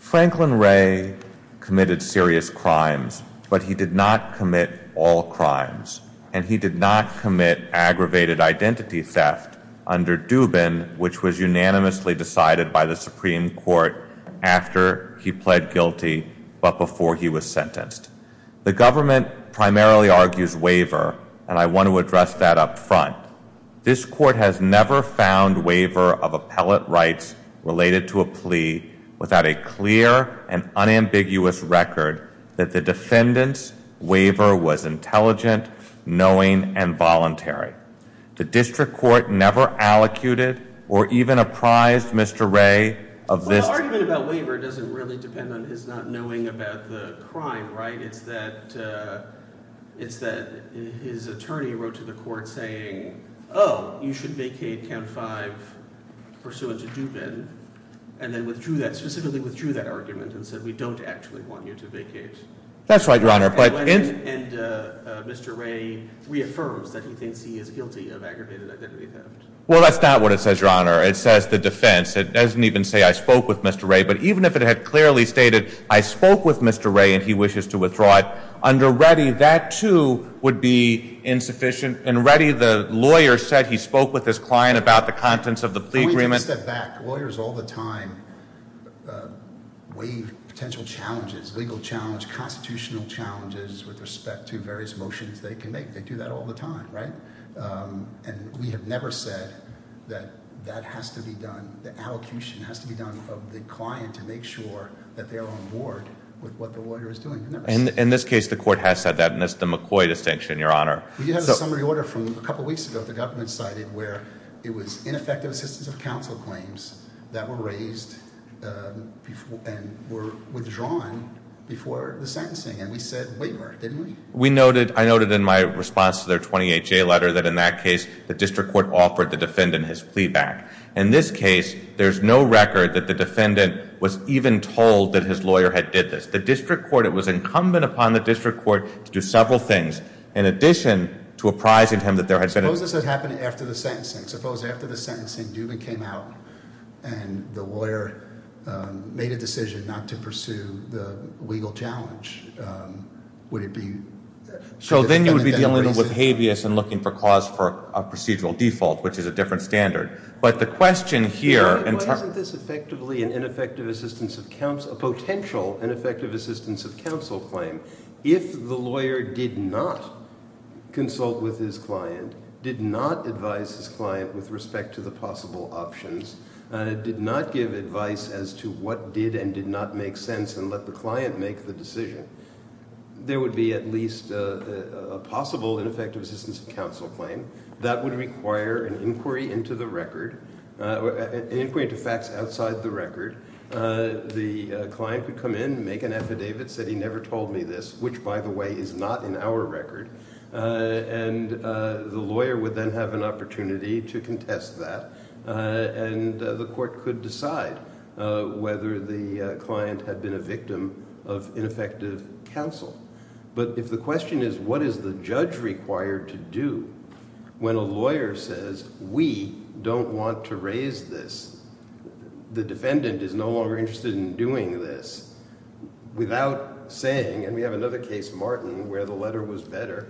Franklin Ray committed serious crimes, but he did not commit all crimes. And he did not commit aggravated identity theft under Dubin, which was unanimously decided by the Supreme Court after he pled guilty, but before he was sentenced. The government primarily argues waiver, and I want to address that up front. This court has never found waiver of appellate rights related to a plea without a clear and unambiguous record that the defendant's waiver was intelligent, knowing, and voluntary. The district court never allocuted or even apprised Mr. Ray of this. Well, the argument about waiver doesn't really depend on his not knowing about the crime, right? It's that his attorney wrote to the court saying, oh, you should vacate count five pursuant to Dubin. And then withdrew that, specifically withdrew that argument and said we don't actually want you to vacate. That's right, Your Honor. And Mr. Ray reaffirms that he thinks he is guilty of aggravated identity theft. Well, that's not what it says, Your Honor. It says the defense. It doesn't even say I spoke with Mr. Ray. But even if it had clearly stated I spoke with Mr. Ray and he wishes to withdraw it, under Reddy, that, too, would be insufficient. In Reddy, the lawyer said he spoke with his client about the contents of the plea agreement. One step back, lawyers all the time waive potential challenges, legal challenges, constitutional challenges with respect to various motions they can make. They do that all the time, right? And we have never said that that has to be done, the allocution has to be done of the client to make sure that they are on board with what the lawyer is doing. In this case, the court has said that, and that's the McCoy distinction, Your Honor. We did have a summary order from a couple weeks ago, the government cited, where it was ineffective assistance of counsel claims that were raised and were withdrawn before the sentencing, and we said, wait a minute, didn't we? We noted, I noted in my response to their 28-J letter, that in that case, the district court offered the defendant his plea back. In this case, there's no record that the defendant was even told that his lawyer had did this. The district court, it was incumbent upon the district court to do several things. In addition to apprising him that there had been- Suppose this had happened after the sentencing. Suppose after the sentencing, Dubin came out and the lawyer made a decision not to pursue the legal challenge. Would it be- So then you would be dealing with habeas and looking for cause for a procedural default, which is a different standard. But the question here- Why isn't this effectively an ineffective assistance of counsel, a potential ineffective assistance of counsel claim? If the lawyer did not consult with his client, did not advise his client with respect to the possible options, did not give advice as to what did and did not make sense and let the client make the decision, there would be at least a possible ineffective assistance of counsel claim. That would require an inquiry into the record, an inquiry into facts outside the record. The client could come in, make an affidavit, said he never told me this, which, by the way, is not in our record. And the lawyer would then have an opportunity to contest that. And the court could decide whether the client had been a victim of ineffective counsel. But if the question is, what is the judge required to do when a lawyer says, we don't want to raise this. The defendant is no longer interested in doing this. Without saying, and we have another case, Martin, where the letter was better,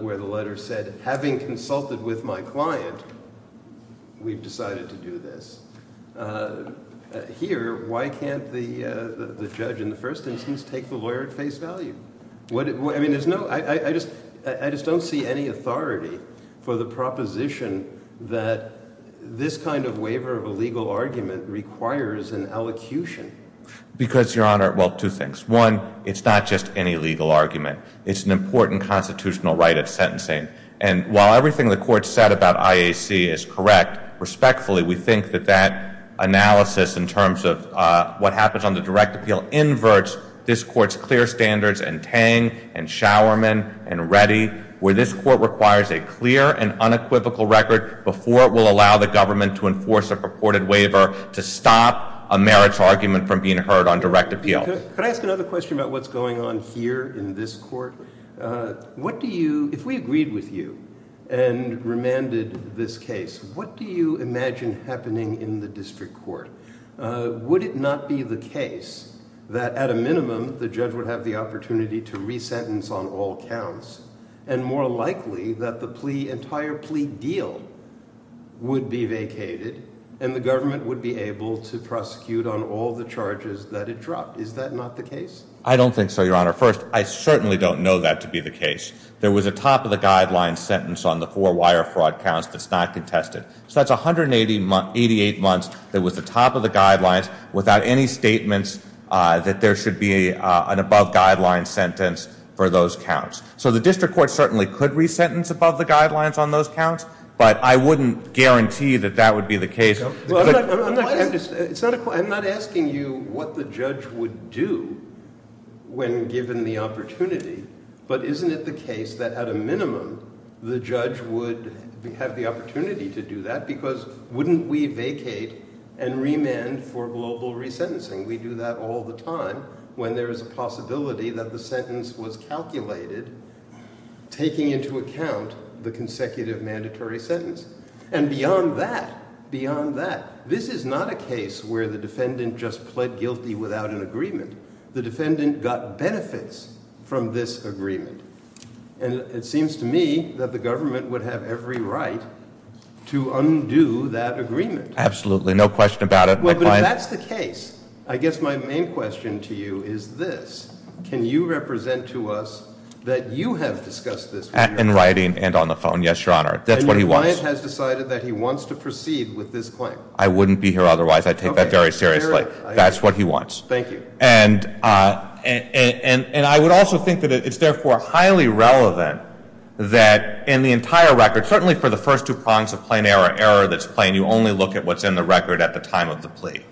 where the letter said, having consulted with my client, we've decided to do this. Here, why can't the judge in the first instance take the lawyer at face value? I mean, I just don't see any authority for the proposition that this kind of waiver of a legal argument requires an allocution. Because, Your Honor, well, two things. One, it's not just any legal argument. It's an important constitutional right of sentencing. And while everything the court said about IAC is correct, respectfully, we think that that analysis in terms of what happens on the direct appeal inverts this court's clear standards and Tang and Showerman and Reddy. Where this court requires a clear and unequivocal record before it will allow the government to enforce a purported waiver to stop a marriage argument from being heard on direct appeal. Could I ask another question about what's going on here in this court? What do you, if we agreed with you and remanded this case, what do you imagine happening in the district court? Would it not be the case that at a minimum the judge would have the opportunity to re-sentence on all counts? And more likely that the entire plea deal would be vacated, and the government would be able to prosecute on all the charges that it dropped. Is that not the case? I don't think so, Your Honor. First, I certainly don't know that to be the case. There was a top of the guideline sentence on the four wire fraud counts that's not contested. So that's 188 months that was the top of the guidelines without any statements that there should be an above guideline sentence for those counts. So the district court certainly could re-sentence above the guidelines on those counts, but I wouldn't guarantee that that would be the case. I'm not asking you what the judge would do when given the opportunity, but isn't it the case that at a minimum the judge would have the opportunity to do that? Because wouldn't we vacate and remand for global re-sentencing? We do that all the time when there is a possibility that the sentence was calculated, taking into account the consecutive mandatory sentence. And beyond that, beyond that, this is not a case where the defendant just pled guilty without an agreement. The defendant got benefits from this agreement. And it seems to me that the government would have every right to undo that agreement. Absolutely, no question about it. But if that's the case, I guess my main question to you is this. Can you represent to us that you have discussed this with your client? In writing and on the phone, yes, Your Honor. That's what he wants. And your client has decided that he wants to proceed with this claim. I wouldn't be here otherwise. I take that very seriously. That's what he wants. Thank you. And I would also think that it's therefore highly relevant that in the entire record, certainly for the first two prongs of plain error, error that's plain, you only look at what's in the record at the time of the plea.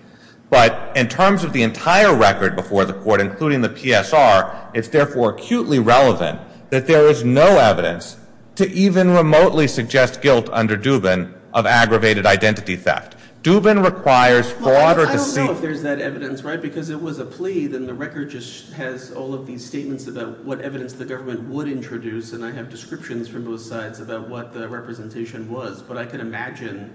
But in terms of the entire record before the court, including the PSR, it's therefore acutely relevant that there is no evidence to even remotely suggest guilt under Dubin of aggravated identity theft. Dubin requires for order to see- If it's a plea, then the record just has all of these statements about what evidence the government would introduce. And I have descriptions from both sides about what the representation was. But I can imagine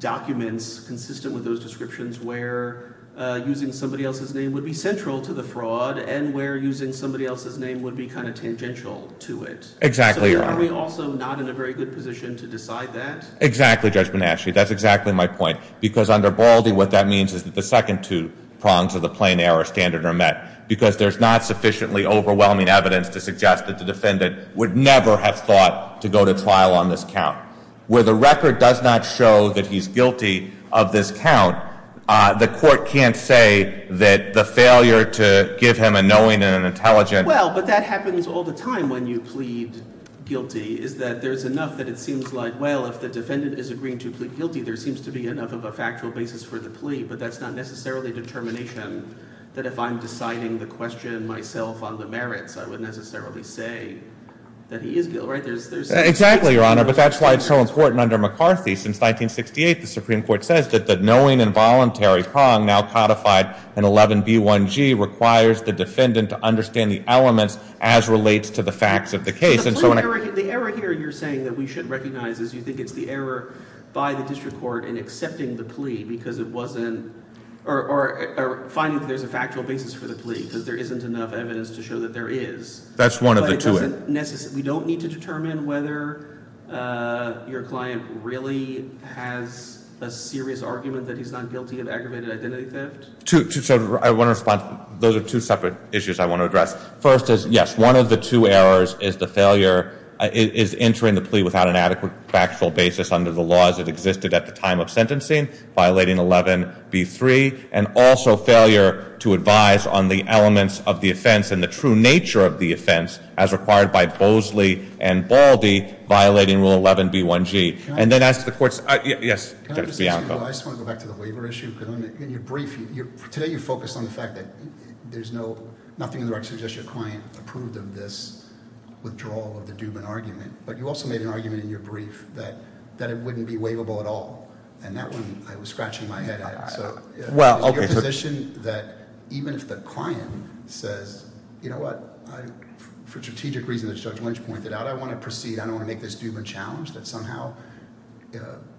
documents consistent with those descriptions where using somebody else's name would be central to the fraud and where using somebody else's name would be kind of tangential to it. Exactly. So are we also not in a very good position to decide that? Exactly, Judge Bonacci. That's exactly my point. Because under Baldy, what that means is that the second two prongs of the plain error standard are met. Because there's not sufficiently overwhelming evidence to suggest that the defendant would never have thought to go to trial on this count. Where the record does not show that he's guilty of this count, the court can't say that the failure to give him a knowing and an intelligent- Well, but that happens all the time when you plead guilty, is that there's enough that it seems like, well, if the defendant is agreeing to plead guilty, there seems to be enough of a factual basis for the plea. But that's not necessarily a determination that if I'm deciding the question myself on the merits, I would necessarily say that he is guilty, right? Exactly, Your Honor. But that's why it's so important under McCarthy. Since 1968, the Supreme Court says that the knowing and voluntary prong now codified in 11b1g requires the defendant to understand the elements as relates to the facts of the case. The error here you're saying that we should recognize is you think it's the error by the district court in accepting the plea because it wasn't, or finding that there's a factual basis for the plea, because there isn't enough evidence to show that there is. That's one of the two. We don't need to determine whether your client really has a serious argument that he's not guilty of aggravated identity theft? Two, so I want to respond, those are two separate issues I want to address. First is, yes, one of the two errors is the failure, is entering the plea without an adequate factual basis under the laws that existed at the time of sentencing, violating 11b3, and also failure to advise on the elements of the offense and the true nature of the offense as required by Bosley and Baldy, violating rule 11b1g. And then as the court's, yes, Judge Bianco. I just want to go back to the waiver issue, because in your brief, today you focused on the fact that there's nothing in the record that suggests your client approved of this withdrawal of the Dubin argument. But you also made an argument in your brief that it wouldn't be waivable at all. And that one, I was scratching my head at. So- Well, okay, so- Is it your position that even if the client says, you know what, for the strategic reason that Judge Lynch pointed out, I want to proceed, I don't want to make this Dubin challenge, that somehow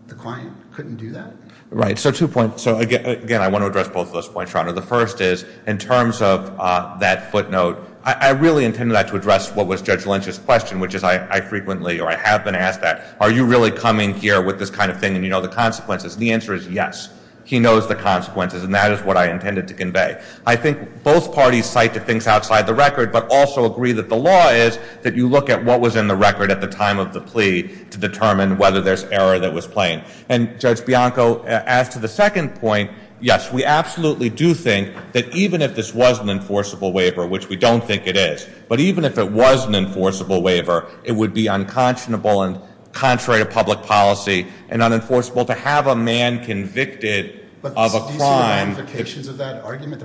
the client couldn't do that? Right, so two points. So again, I want to address both of those points, Your Honor. The first is, in terms of that footnote, I really intended that to address what was Judge Lynch's question, which is I frequently, or I have been asked that, are you really coming here with this kind of thing, and you know the consequences? The answer is yes, he knows the consequences, and that is what I intended to convey. I think both parties cite the things outside the record, but also agree that the law is that you look at what was in the record at the time of the plea to determine whether there's error that was playing. And Judge Bianco, as to the second point, yes, we absolutely do think that even if this was an enforceable waiver, which we don't think it is. But even if it was an enforceable waiver, it would be unconscionable and contrary to public policy and unenforceable to have a man convicted of a crime- My argument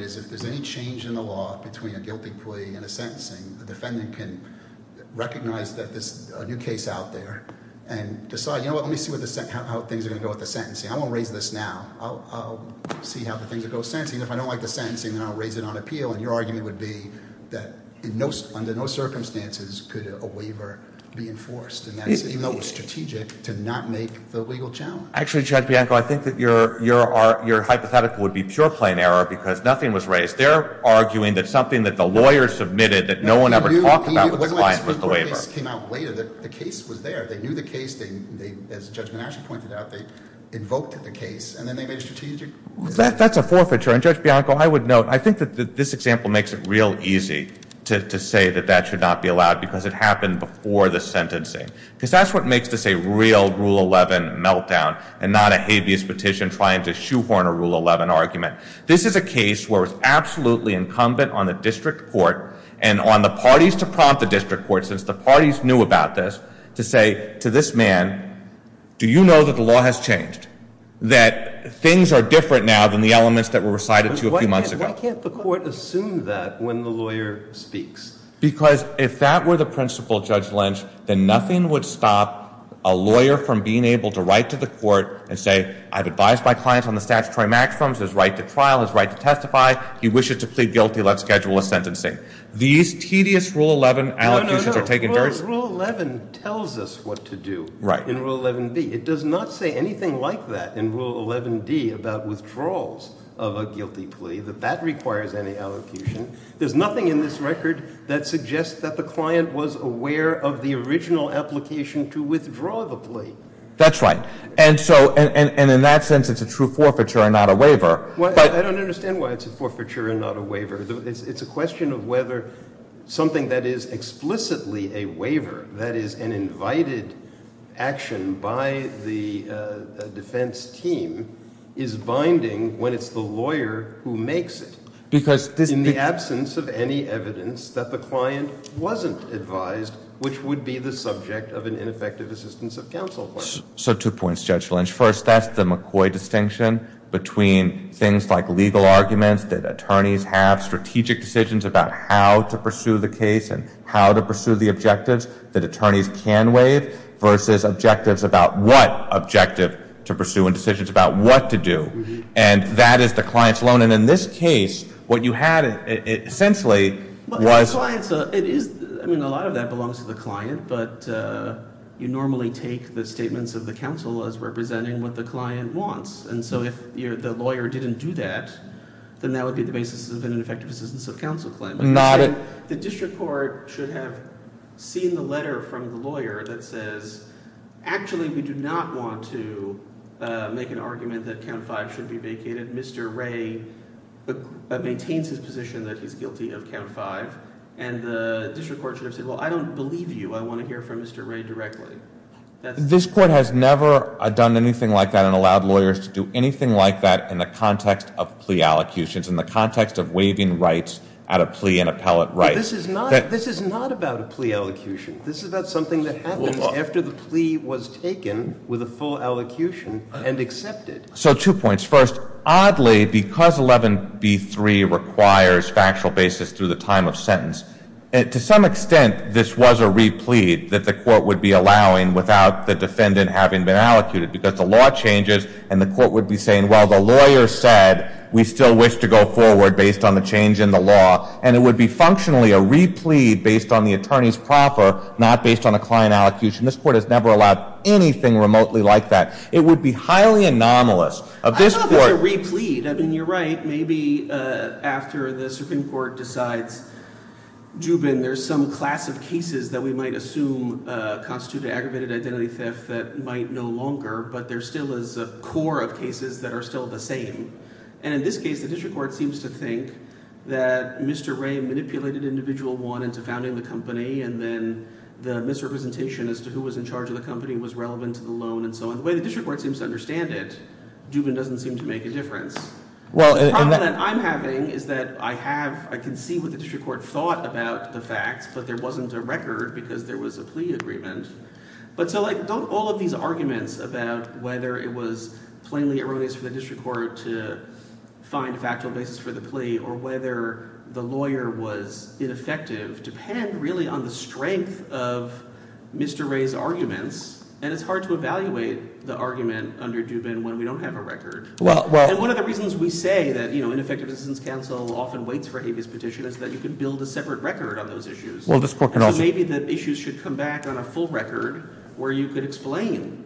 is, if there's any change in the law between a guilty plea and a sentencing, the defendant can recognize that there's a new case out there and decide, you know what, let me see how things are going to go with the sentencing. I won't raise this now, I'll see how the things will go with the sentencing. If I don't like the sentencing, then I'll raise it on appeal, and your argument would be that under no circumstances could a waiver be enforced. And that's even though it's strategic to not make the legal challenge. Actually, Judge Bianco, I think that your hypothetical would be pure plain error because nothing was raised. They're arguing that something that the lawyer submitted that no one ever talked about with the client was the waiver. It wasn't like the Supreme Court case came out later, the case was there. They knew the case, as Judge Manasci pointed out, they invoked the case, and then they made a strategic decision. That's a forfeiture, and Judge Bianco, I would note, I think that this example makes it real easy to say that that should not be allowed because it happened before the sentencing. Because that's what makes this a real Rule 11 meltdown and not a habeas petition trying to shoehorn a Rule 11 argument. This is a case where it's absolutely incumbent on the district court and on the parties to prompt the district court, since the parties knew about this, to say to this man, do you know that the law has changed, that things are different now than the elements that were recited to you a few months ago? Why can't the court assume that when the lawyer speaks? Because if that were the principle, Judge Lynch, then nothing would stop a lawyer from being able to write to the court and say, I've advised my client on the statutory maximums, his right to trial, his right to testify. He wishes to plead guilty, let's schedule a sentencing. These tedious Rule 11 allocutions are taking dirty- No, no, no, Rule 11 tells us what to do in Rule 11B. It does not say anything like that in Rule 11D about withdrawals of a guilty plea, that that requires any allocution. There's nothing in this record that suggests that the client was aware of the original application to withdraw the plea. That's right, and in that sense, it's a true forfeiture and not a waiver. I don't understand why it's a forfeiture and not a waiver. It's a question of whether something that is explicitly a waiver, that is an invited action by the defense team, is binding when it's the lawyer who makes it. Because this- In the absence of any evidence that the client wasn't advised, which would be the subject of an ineffective assistance of counsel. So two points, Judge Lynch. First, that's the McCoy distinction between things like legal arguments, that attorneys have strategic decisions about how to pursue the case and how to pursue the objectives that attorneys can waive, versus objectives about what objective to pursue and decisions about what to do. And that is the client's loan. And in this case, what you had essentially was- A lot of that belongs to the client. But you normally take the statements of the counsel as representing what the client wants. And so if the lawyer didn't do that, then that would be the basis of an ineffective assistance of counsel claim. The district court should have seen the letter from the lawyer that says, actually we do not want to make an argument that count five should be vacated. Mr. Ray maintains his position that he's guilty of count five. And the district court should have said, well, I don't believe you. I want to hear from Mr. Ray directly. This court has never done anything like that and allowed lawyers to do anything like that in the context of plea allocutions, in the context of waiving rights at a plea and appellate right. This is not about a plea allocution. This is about something that happens after the plea was taken with a full allocution and accepted. So two points. First, oddly, because 11B3 requires factual basis through the time of sentence, to some extent this was a replete that the court would be allowing without the defendant having been allocated. Because the law changes and the court would be saying, well, the lawyer said we still wish to go forward based on the change in the law. And it would be functionally a replete based on the attorney's proffer, not based on a client allocution. This court has never allowed anything remotely like that. It would be highly anomalous. Of this court- I don't know if it's a replete. I mean, you're right. Maybe after the Supreme Court decides, Jubin, there's some class of cases that we might assume constitute an aggravated identity theft that might no longer. But there still is a core of cases that are still the same. And in this case, the district court seems to think that Mr. Ray manipulated individual one into founding the company and then the misrepresentation as to who was in charge of the company was relevant to the loan and so on. The way the district court seems to understand it, Jubin doesn't seem to make a difference. The problem that I'm having is that I can see what the district court thought about the facts, but there wasn't a record because there was a plea agreement. But so don't all of these arguments about whether it was plainly erroneous for the district court to find a factual basis for the plea or whether the lawyer was ineffective, depend really on the strength of Mr. Ray's arguments. And it's hard to evaluate the argument under Jubin when we don't have a record. And one of the reasons we say that ineffective assistance counsel often waits for habeas petition is that you can build a separate record on those issues. So maybe the issues should come back on a full record where you could explain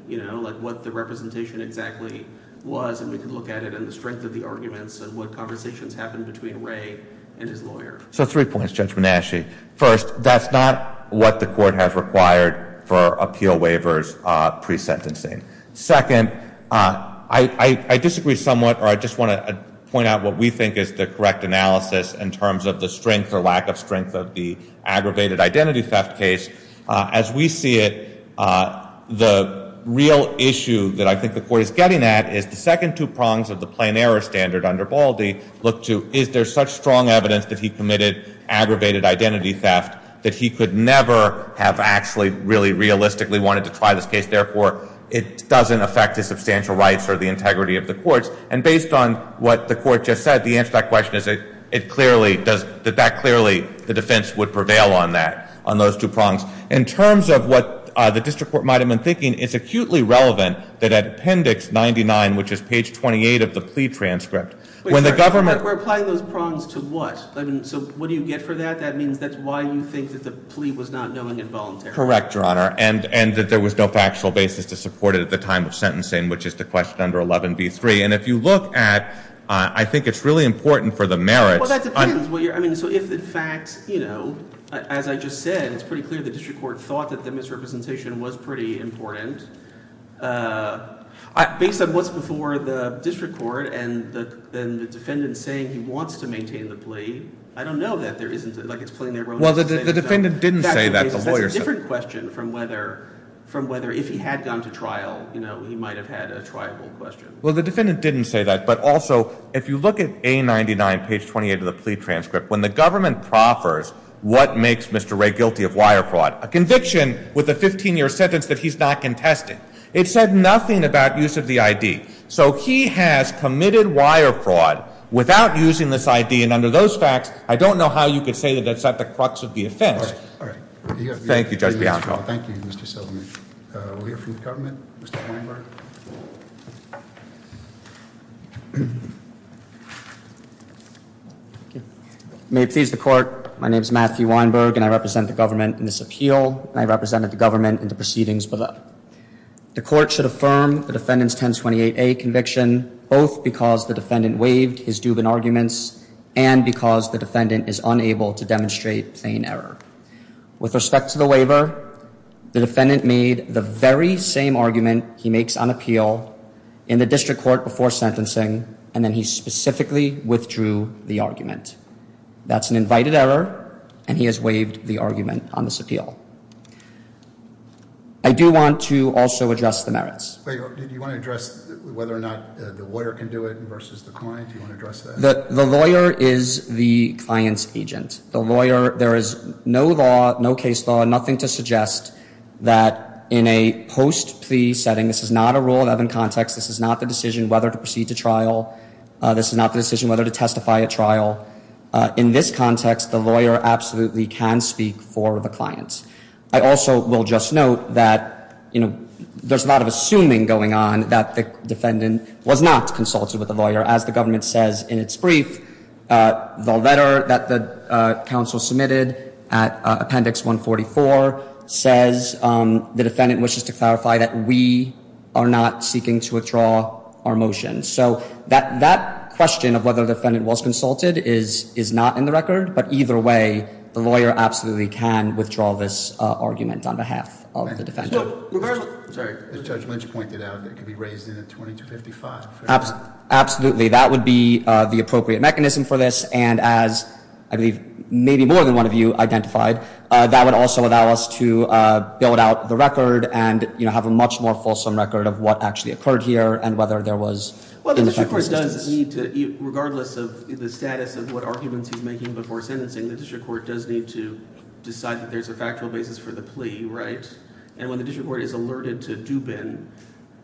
what the representation exactly was. And we can look at it and the strength of the arguments and what conversations happened between Ray and his lawyer. So three points, Judge Manasci. First, that's not what the court has required for appeal waivers pre-sentencing. Second, I disagree somewhat, or I just want to point out what we think is the correct analysis in terms of the strength or lack of strength of the aggravated identity theft case. As we see it, the real issue that I think the court is getting at is the second two prongs of the plain error standard under Baldy. Look to, is there such strong evidence that he committed aggravated identity theft that he could never have actually really realistically wanted to try this case? Therefore, it doesn't affect his substantial rights or the integrity of the courts. And based on what the court just said, the answer to that question is that clearly the defense would prevail on that, on those two prongs. In terms of what the district court might have been thinking, it's acutely relevant that at appendix 99, which is page 28 of the plea transcript. When the government- We're applying those prongs to what? So what do you get for that? That means that's why you think that the plea was not known involuntarily. Correct, Your Honor. And that there was no factual basis to support it at the time of sentencing, which is the question under 11B3. And if you look at, I think it's really important for the merits- Well, that depends. I mean, so if in fact, as I just said, it's pretty clear the district court thought that the misrepresentation was pretty important. Based on what's before the district court and the defendant saying he wants to maintain the plea, I don't know that there isn't, like it's plain error- Well, the defendant didn't say that, the lawyer said- That's a different question from whether if he had gone to trial, he might have had a triable question. Well, the defendant didn't say that, but also, if you look at A99, page 28 of the plea transcript, when the government proffers what makes Mr. Ray guilty of wire fraud, a conviction with a 15-year sentence that he's not contesting. It said nothing about use of the ID. So he has committed wire fraud without using this ID, and under those facts, I don't know how you could say that that's at the crux of the offense. All right, all right. Thank you, Judge Bianco. Thank you, Mr. Seligman. We'll hear from the government. Mr. Weinberg. May it please the court, my name is Matthew Weinberg, and I represent the government in this appeal, and I represented the government in the proceedings below. The court should affirm the defendant's 1028A conviction, both because the defendant waived his Dubin arguments, and because the defendant is unable to demonstrate plain error. With respect to the waiver, the defendant made the very same argument he makes on appeal in the district court before sentencing, and then he specifically withdrew the argument. That's an invited error, and he has waived the argument on this appeal. I do want to also address the merits. Wait, do you want to address whether or not the lawyer can do it versus the client? Do you want to address that? The lawyer is the client's agent. The lawyer, there is no law, no case law, nothing to suggest that in a post-plea setting, this is not a Rule 11 context, this is not the decision whether to proceed to trial, this is not the decision whether to testify at trial. In this context, the lawyer absolutely can speak for the client. I also will just note that, you know, there's a lot of assuming going on that the defendant was not consulted with the lawyer. As the government says in its brief, the letter that the counsel submitted at Appendix 144 says the defendant wishes to clarify that we are not seeking to withdraw our motion. So that question of whether the defendant was consulted is not in the record, but either way, the lawyer absolutely can withdraw this argument on behalf of the defendant. I'm sorry, as Judge Lynch pointed out, it could be raised in a 2255. Absolutely, that would be the appropriate mechanism for this, and as, I believe, maybe more than one of you identified, that would also allow us to build out the record and, you know, have a much more fulsome record of what actually occurred here and whether there was. Well, the district court does need to, regardless of the status of what arguments he's making before sentencing, the district court does need to decide that there's a factual basis for the plea, right? And when the district court is alerted to Dubin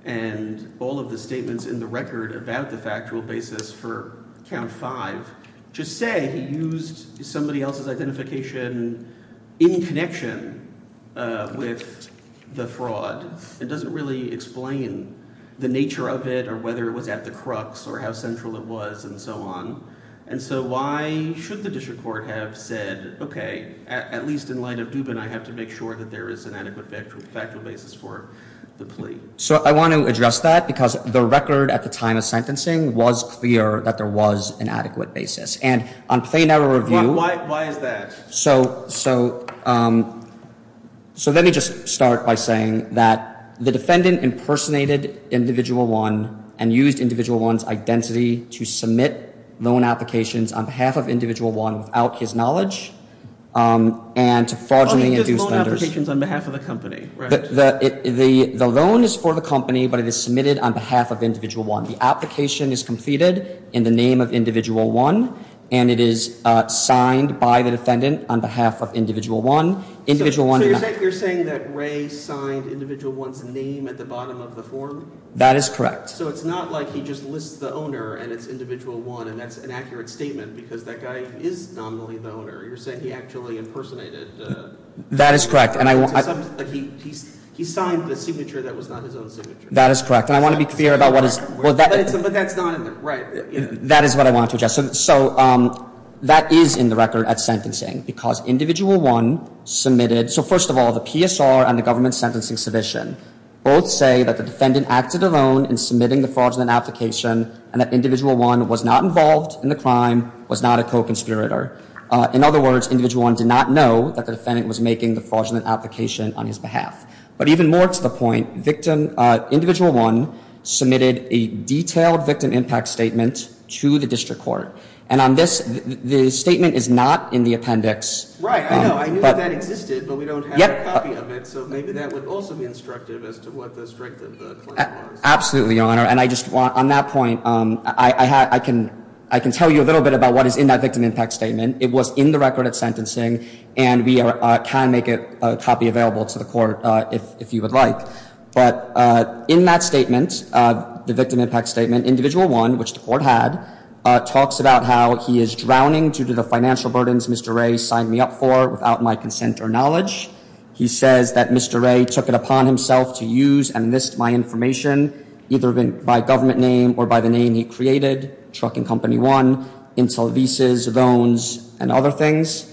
and all of the statements in the record about the factual basis for count five, just say he used somebody else's identification in connection with the fraud. It doesn't really explain the nature of it or whether it was at the crux or how central it was and so on. And so why should the district court have said, okay, at least in light of Dubin, I have to make sure that there is an adequate factual basis for the plea? So I want to address that because the record at the time of sentencing was clear that there was an adequate basis. And on plain error review- Why is that? So let me just start by saying that the defendant impersonated Individual One and used Individual One's identity to submit loan applications on behalf of Individual One without his knowledge and to fraudulently induce- Oh, he did loan applications on behalf of the company, right? The loan is for the company, but it is submitted on behalf of Individual One. The application is completed in the name of Individual One and it is signed by the defendant on behalf of Individual One. So you're saying that Ray signed Individual One's name at the bottom of the form? That is correct. So it's not like he just lists the owner and it's Individual One and that's an accurate statement because that guy is nominally the owner. You're saying he actually impersonated- That is correct. And he signed the signature that was not his own signature. That is correct. And I want to be clear about what is- But that's not in the- Right. That is what I wanted to address. So that is in the record at sentencing because Individual One submitted- So first of all, the PSR and the government sentencing submission both say that the defendant acted alone in submitting the fraudulent application and that Individual One was not involved in the crime, was not a co-conspirator. In other words, Individual One did not know that the defendant was making the fraudulent application on his behalf. But even more to the point, Individual One submitted a detailed victim impact statement to the district court. And on this, the statement is not in the appendix. Right, I know. I knew that existed, but we don't have a copy of it. So maybe that would also be instructive as to what the strength of the claim was. Absolutely, Your Honor. And I just want, on that point, I can tell you a little bit about what is in that victim impact statement. It was in the record at sentencing, and we can make a copy available to the court if you would like. But in that statement, the victim impact statement, Individual One, which the court had, talks about how he is drowning due to the financial burdens Mr. Ray signed me up for without my consent or knowledge. He says that Mr. Ray took it upon himself to use and list my information, either by government name or by the name he created, Trucking Company One, until visas, loans, and other things.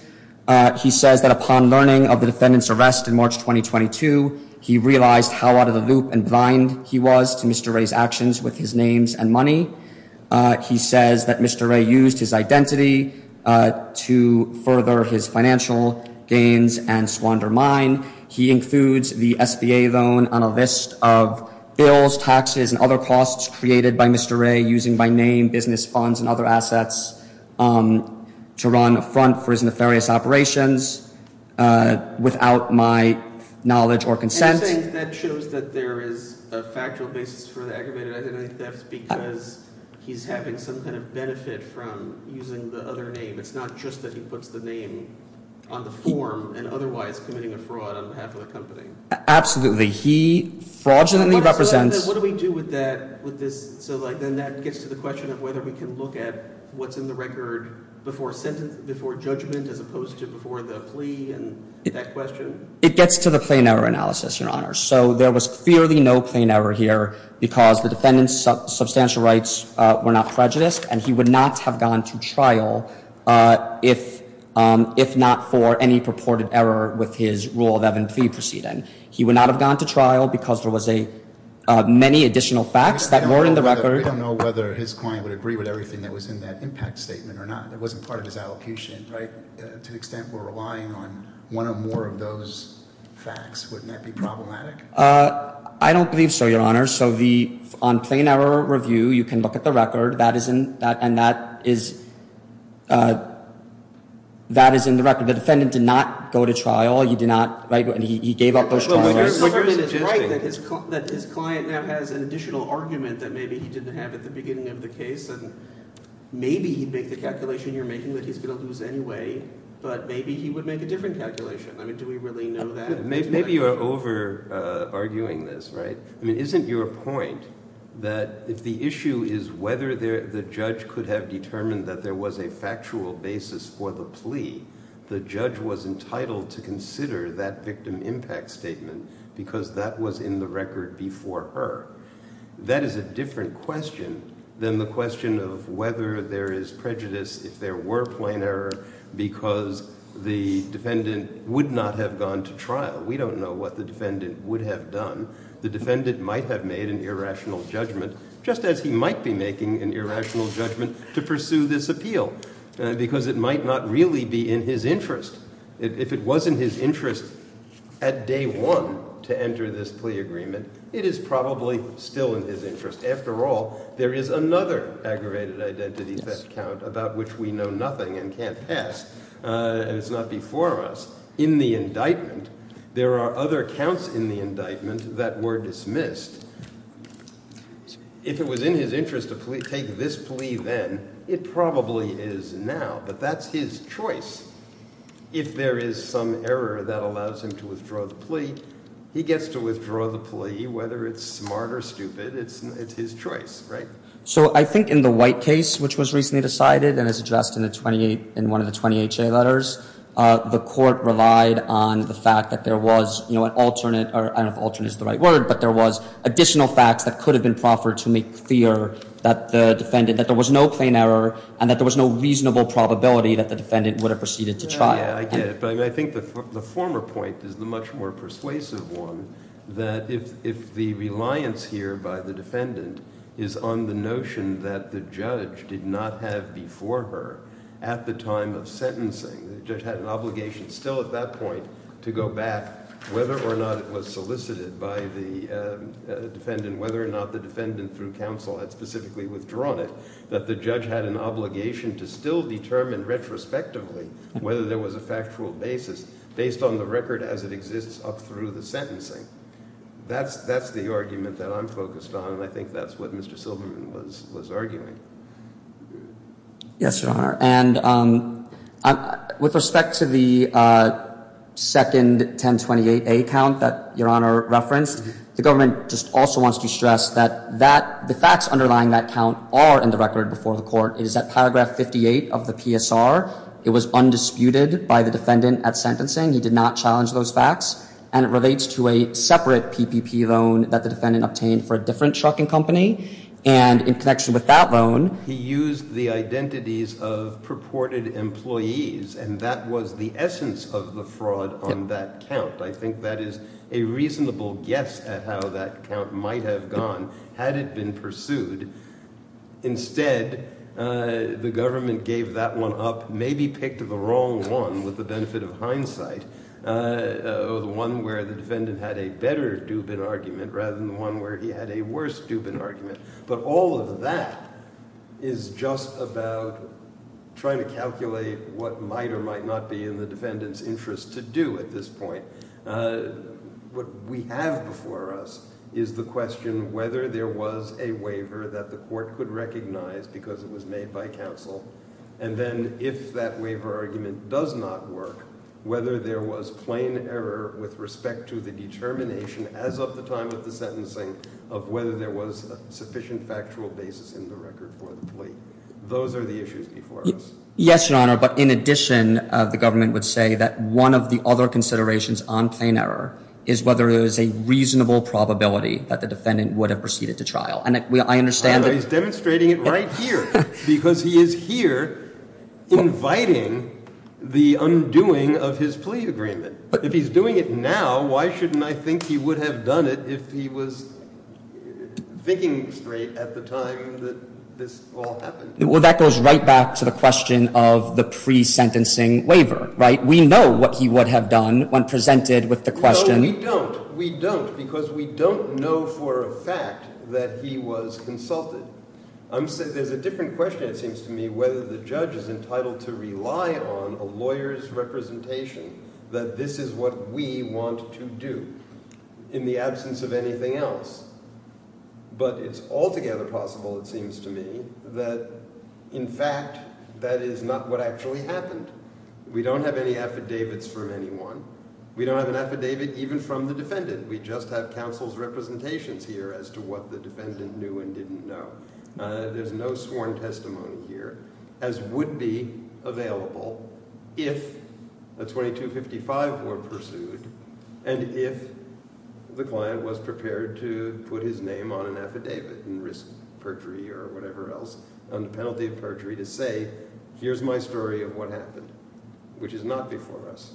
He says that upon learning of the defendant's arrest in March 2022, he realized how out of the loop and blind he was to Mr. Ray's actions with his names and money. He says that Mr. Ray used his identity to further his financial gains and squander mine. He includes the SBA loan on a list of bills, taxes, and other costs created by Mr. Ray using my name, business funds, and other assets to run a front for his nefarious operations without my knowledge or consent. And you're saying that shows that there is a factual basis for the aggravated identity theft because he's having some kind of benefit from using the other name. It's not just that he puts the name on the form and otherwise committing a fraud on behalf of the company. Absolutely. He fraudulently represents- What do we do with that, with this? So then that gets to the question of whether we can look at what's in the record before judgment as opposed to before the plea and that question? It gets to the plain error analysis, Your Honor. So there was clearly no plain error here because the defendant's substantial rights were not prejudiced, and he would not have gone to trial if not for any purported error with his rule of evidence proceeding. He would not have gone to trial because there was many additional facts that were in the record. We don't know whether his client would agree with everything that was in that impact statement or not. It wasn't part of his allocution, right? To the extent we're relying on one or more of those facts, wouldn't that be problematic? I don't believe so, Your Honor. So on plain error review, you can look at the record, and that is in the record. The defendant did not go to trial. He did not, right, he gave up those trials. But you're suggesting- It's right that his client now has an additional argument that maybe he didn't have at the beginning of the case, and maybe he'd make the calculation you're making that he's going to lose anyway, but maybe he would make a different calculation. I mean, do we really know that? Maybe you are over-arguing this, right? I mean, isn't your point that if the issue is whether the judge could have determined that there was a factual basis for the plea, the judge was entitled to consider that victim impact statement because that was in the record before her? That is a different question than the question of whether there is prejudice if there were plain error because the defendant would not have gone to trial. We don't know what the defendant would have done. The defendant might have made an irrational judgment, just as he might be making an irrational judgment to pursue this appeal. Because it might not really be in his interest. If it was in his interest at day one to enter this plea agreement, it is probably still in his interest. After all, there is another aggravated identity theft count about which we know nothing and can't pass. And it's not before us. In the indictment, there are other counts in the indictment that were dismissed. If it was in his interest to take this plea then, it probably is now. But that's his choice. If there is some error that allows him to withdraw the plea, he gets to withdraw the plea. Whether it's smart or stupid, it's his choice, right? So I think in the White case, which was recently decided and is addressed in one of the 20 HA letters, the court relied on the fact that there was an alternate, or I don't know if alternate is the right word, but there was additional facts that could have been proffered to make clear that the defendant, that there was no plain error and that there was no reasonable probability that the defendant would have proceeded to trial. Yeah, I get it, but I think the former point is the much more persuasive one. That if the reliance here by the defendant is on the notion that the judge did not have before her, at the time of sentencing, the judge had an obligation still at that point to go back whether or not it was solicited by the defendant, whether or not the defendant through counsel had specifically withdrawn it. That the judge had an obligation to still determine retrospectively whether there was a factual basis, based on the record as it exists up through the sentencing. That's the argument that I'm focused on, and I think that's what Mr. Silverman was arguing. Yes, Your Honor, and with respect to the second 1028A count that Your Honor referenced, the government just also wants to stress that the facts underlying that count are in the record before the court. It is at paragraph 58 of the PSR. It was undisputed by the defendant at sentencing. He did not challenge those facts, and it relates to a separate PPP loan that the defendant obtained for a different trucking company. And in connection with that loan, he used the identities of purported employees, and that was the essence of the fraud on that count. I think that is a reasonable guess at how that count might have gone, had it been pursued. Instead, the government gave that one up, maybe picked the wrong one, with the benefit of hindsight. The one where the defendant had a better Dubin argument, rather than the one where he had a worse Dubin argument. But all of that is just about trying to calculate what might or might not be in the defendant's interest to do at this point. What we have before us is the question whether there was a waiver that the court could recognize because it was made by counsel. And then if that waiver argument does not work, whether there was plain error with respect to the determination, as of the time of the sentencing, of whether there was a sufficient factual basis in the record for the plea. Those are the issues before us. Yes, Your Honor, but in addition, the government would say that one of the other considerations on plain error is whether there is a reasonable probability that the defendant would have proceeded to trial. And I understand that- Here, inviting the undoing of his plea agreement. If he's doing it now, why shouldn't I think he would have done it if he was thinking straight at the time that this all happened? Well, that goes right back to the question of the pre-sentencing waiver, right? We know what he would have done when presented with the question- No, we don't. We don't, because we don't know for a fact that he was consulted. There's a different question, it seems to me, whether the judge is entitled to rely on a lawyer's representation, that this is what we want to do in the absence of anything else. But it's altogether possible, it seems to me, that in fact, that is not what actually happened. We don't have any affidavits from anyone. We don't have an affidavit even from the defendant. We just have counsel's representations here as to what the defendant knew and didn't know. There's no sworn testimony here, as would be available if a 2255 were pursued. And if the client was prepared to put his name on an affidavit and risk perjury or whatever else on the penalty of perjury to say, here's my story of what happened, which is not before us.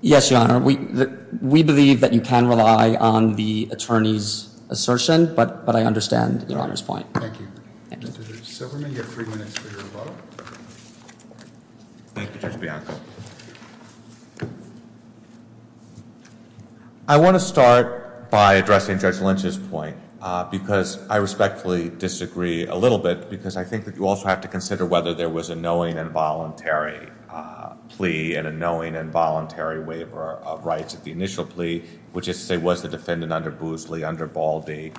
Yes, Your Honor, we believe that you can rely on the attorney's assertion, but I understand Your Honor's point. Thank you. Thank you. Mr. Zuberman, you have three minutes for your vote. Thank you, Judge Bianco. I want to start by addressing Judge Lynch's point because I respectfully disagree a little bit because I think that you also have to consider whether there was a knowing and voluntary plea and a knowing and voluntary waiver of rights at the initial plea, which is to say, was the defendant under Boosley, under Balde,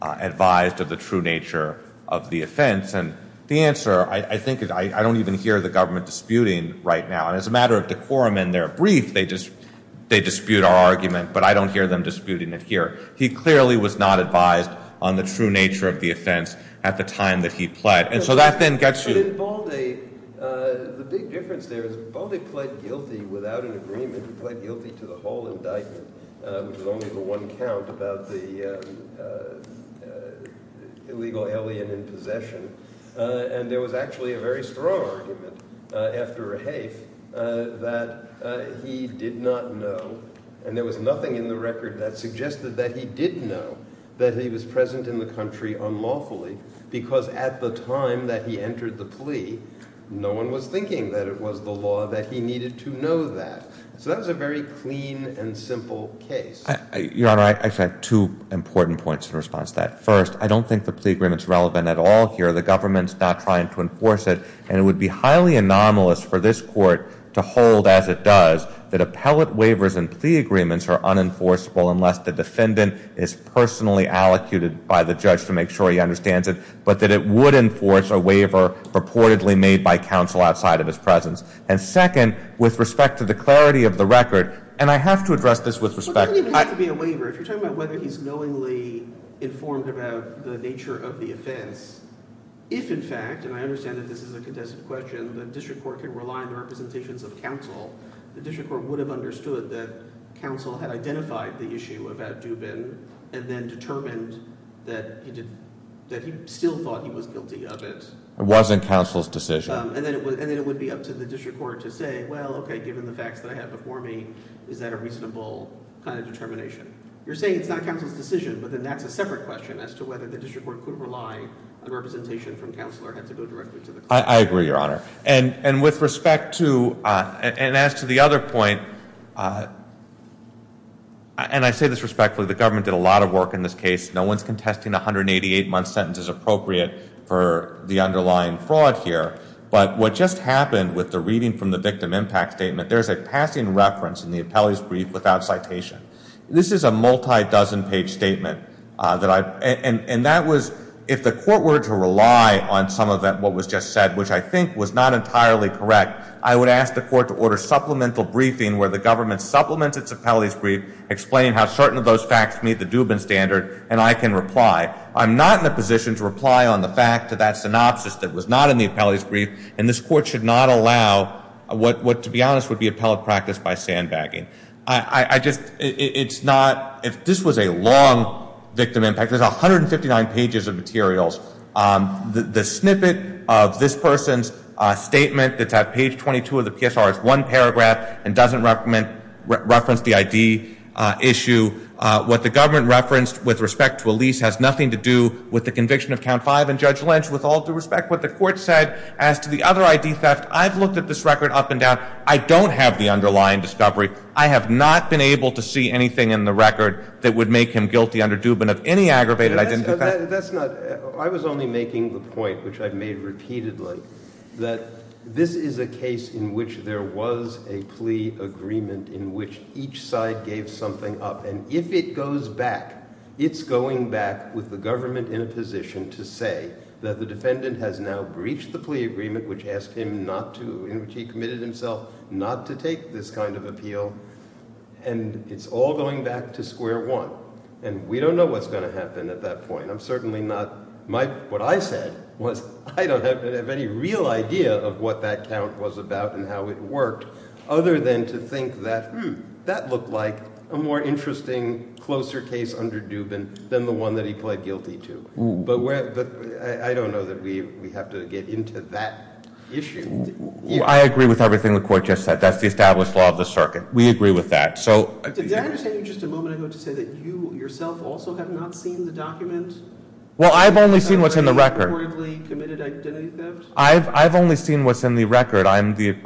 advised of the true nature of the offense? And the answer, I think, I don't even hear the government disputing right now. And as a matter of decorum in their brief, they dispute our argument, but I don't hear them disputing it here. He clearly was not advised on the true nature of the offense at the time that he pled. And so that then gets you- But in Balde, the big difference there is Balde pled guilty without an agreement. He pled guilty to the whole indictment, which was only the one count about the illegal alien in possession. And there was actually a very strong argument after Rehaef that he did not know, and there was nothing in the record that suggested that he did know that he was present in the country unlawfully because at the time that he entered the plea, no one was thinking that it was the law that he needed to know that. So that was a very clean and simple case. Your Honor, I actually have two important points in response to that. First, I don't think the plea agreement's relevant at all here. The government's not trying to enforce it. And it would be highly anomalous for this court to hold as it does, that appellate waivers and plea agreements are unenforceable unless the defendant is personally allocated by the judge to make sure he understands it, but that it would enforce a waiver purportedly made by counsel outside of his presence. And second, with respect to the clarity of the record, and I have to address this with respect- Well, it doesn't even have to be a waiver. If you're talking about whether he's knowingly informed about the nature of the offense, if in fact, and I understand that this is a contested question, the district court can rely on the representations of counsel, the district court would have understood that counsel had identified the issue of Addubin and then determined that he still thought he was guilty of it. It wasn't counsel's decision. And then it would be up to the district court to say, well, okay, given the facts that I have before me, is that a reasonable kind of determination? You're saying it's not counsel's decision, but then that's a separate question as to whether the district court could rely on representation from counsel or had to go directly to the- I agree, Your Honor. And with respect to, and as to the other point, and I say this respectfully, the government did a lot of work in this case. No one's contesting a 188-month sentence as appropriate for the underlying fraud here. But what just happened with the reading from the victim impact statement, there's a passing reference in the appellee's brief without citation. This is a multi-dozen page statement that I, and that was, if the court were to rely on some of that, what was just said, which I think was not entirely correct, I would ask the court to order supplemental briefing where the government supplements its appellee's brief, explaining how certain of those facts meet the Dubin standard, and I can reply. I'm not in a position to reply on the fact to that synopsis that was not in the appellee's brief, and this court should not allow what, to be honest, would be appellate practice by sandbagging. I just, it's not, if this was a long victim impact, there's 159 pages of materials. The snippet of this person's statement that's at page 22 of the PSR is one paragraph and doesn't reference the ID issue. What the government referenced with respect to Elise has nothing to do with the conviction of count five and Judge Lynch. With all due respect, what the court said as to the other ID theft, I've looked at this record up and down. I don't have the underlying discovery. I have not been able to see anything in the record that would make him guilty under Dubin of any aggravated identity theft. That's not, I was only making the point, which I've made repeatedly, that this is a case in which there was a plea agreement in which each side gave something up. And if it goes back, it's going back with the government in a position to say that the defendant has now breached the plea agreement which asked him not to, in which he committed himself not to take this kind of appeal. And it's all going back to square one. And we don't know what's going to happen at that point. I'm certainly not, what I said was I don't have any real idea of what that count was about and how it worked other than to think that, hm, that looked like a more interesting, closer case under Dubin than the one that he pled guilty to. But I don't know that we have to get into that issue. I agree with everything the court just said. That's the established law of the circuit. We agree with that. So- Did that understand you just a moment ago to say that you yourself also have not seen the document? Well, I've only seen what's in the record. Reportedly committed identity theft? I've only seen what's in the record. I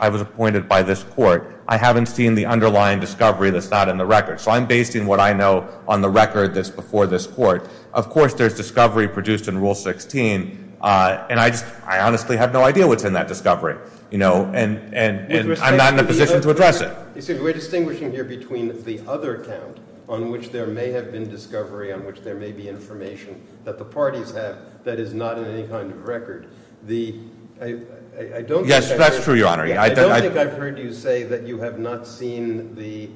was appointed by this court. I haven't seen the underlying discovery that's not in the record. So I'm basing what I know on the record that's before this court. Of course, there's discovery produced in Rule 16, and I honestly have no idea what's in that discovery. And I'm not in a position to address it. You see, we're distinguishing here between the other count on which there may have been discovery, on which there may be information that the parties have that is not in any kind of record. The, I don't think- Yes, that's true, Your Honor. Yeah, I don't think I've heard you say that you have not seen the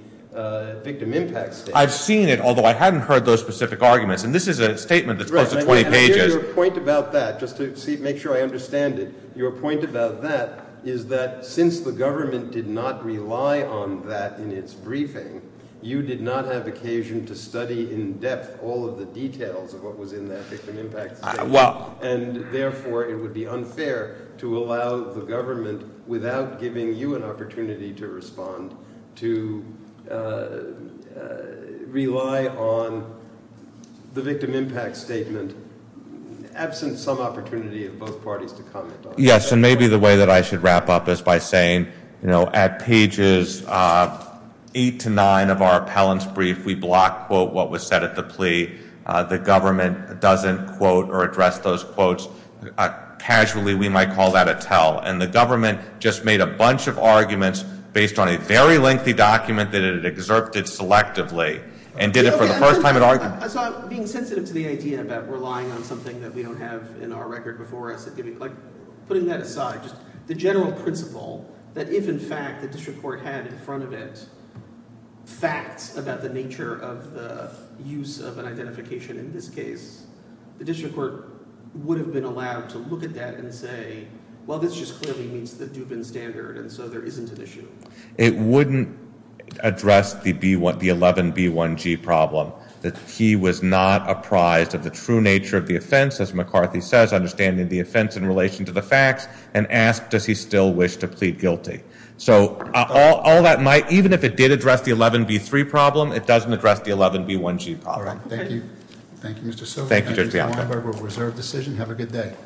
victim impact statement. I've seen it, although I haven't heard those specific arguments. And this is a statement that's close to 20 pages. Right, and I hear your point about that, just to make sure I understand it. Your point about that is that since the government did not rely on that in its briefing, you did not have occasion to study in depth all of the details of what was in that victim impact statement. Well- And therefore, it would be unfair to allow the government, without giving you an opportunity to respond, to rely on the victim impact statement, absent some opportunity of both parties to comment on it. Yes, and maybe the way that I should wrap up is by saying, at pages eight to nine of our appellant's brief, we block, quote, what was said at the plea. The government doesn't quote or address those quotes. Casually, we might call that a tell. And the government just made a bunch of arguments based on a very lengthy document that it had excerpted selectively. And did it for the first time at our- I saw it being sensitive to the idea about relying on something that we don't have in our record before us. Putting that aside, just the general principle that if in fact the district court had in front of it facts about the nature of the use of an identification in this case, the district court would have been allowed to look at that and say, well, this just clearly meets the Dubin standard, and so there isn't an issue. It wouldn't address the 11B1G problem, that he was not apprised of the true nature of the offense. As McCarthy says, understanding the offense in relation to the facts, and asked, does he still wish to plead guilty? So all that might, even if it did address the 11B3 problem, it doesn't address the 11B1G problem. All right, thank you. Thank you, Mr. Silver. Thank you, Judge Bianco. Thank you, Mr. Weinberg, we'll reserve decision. Have a good day.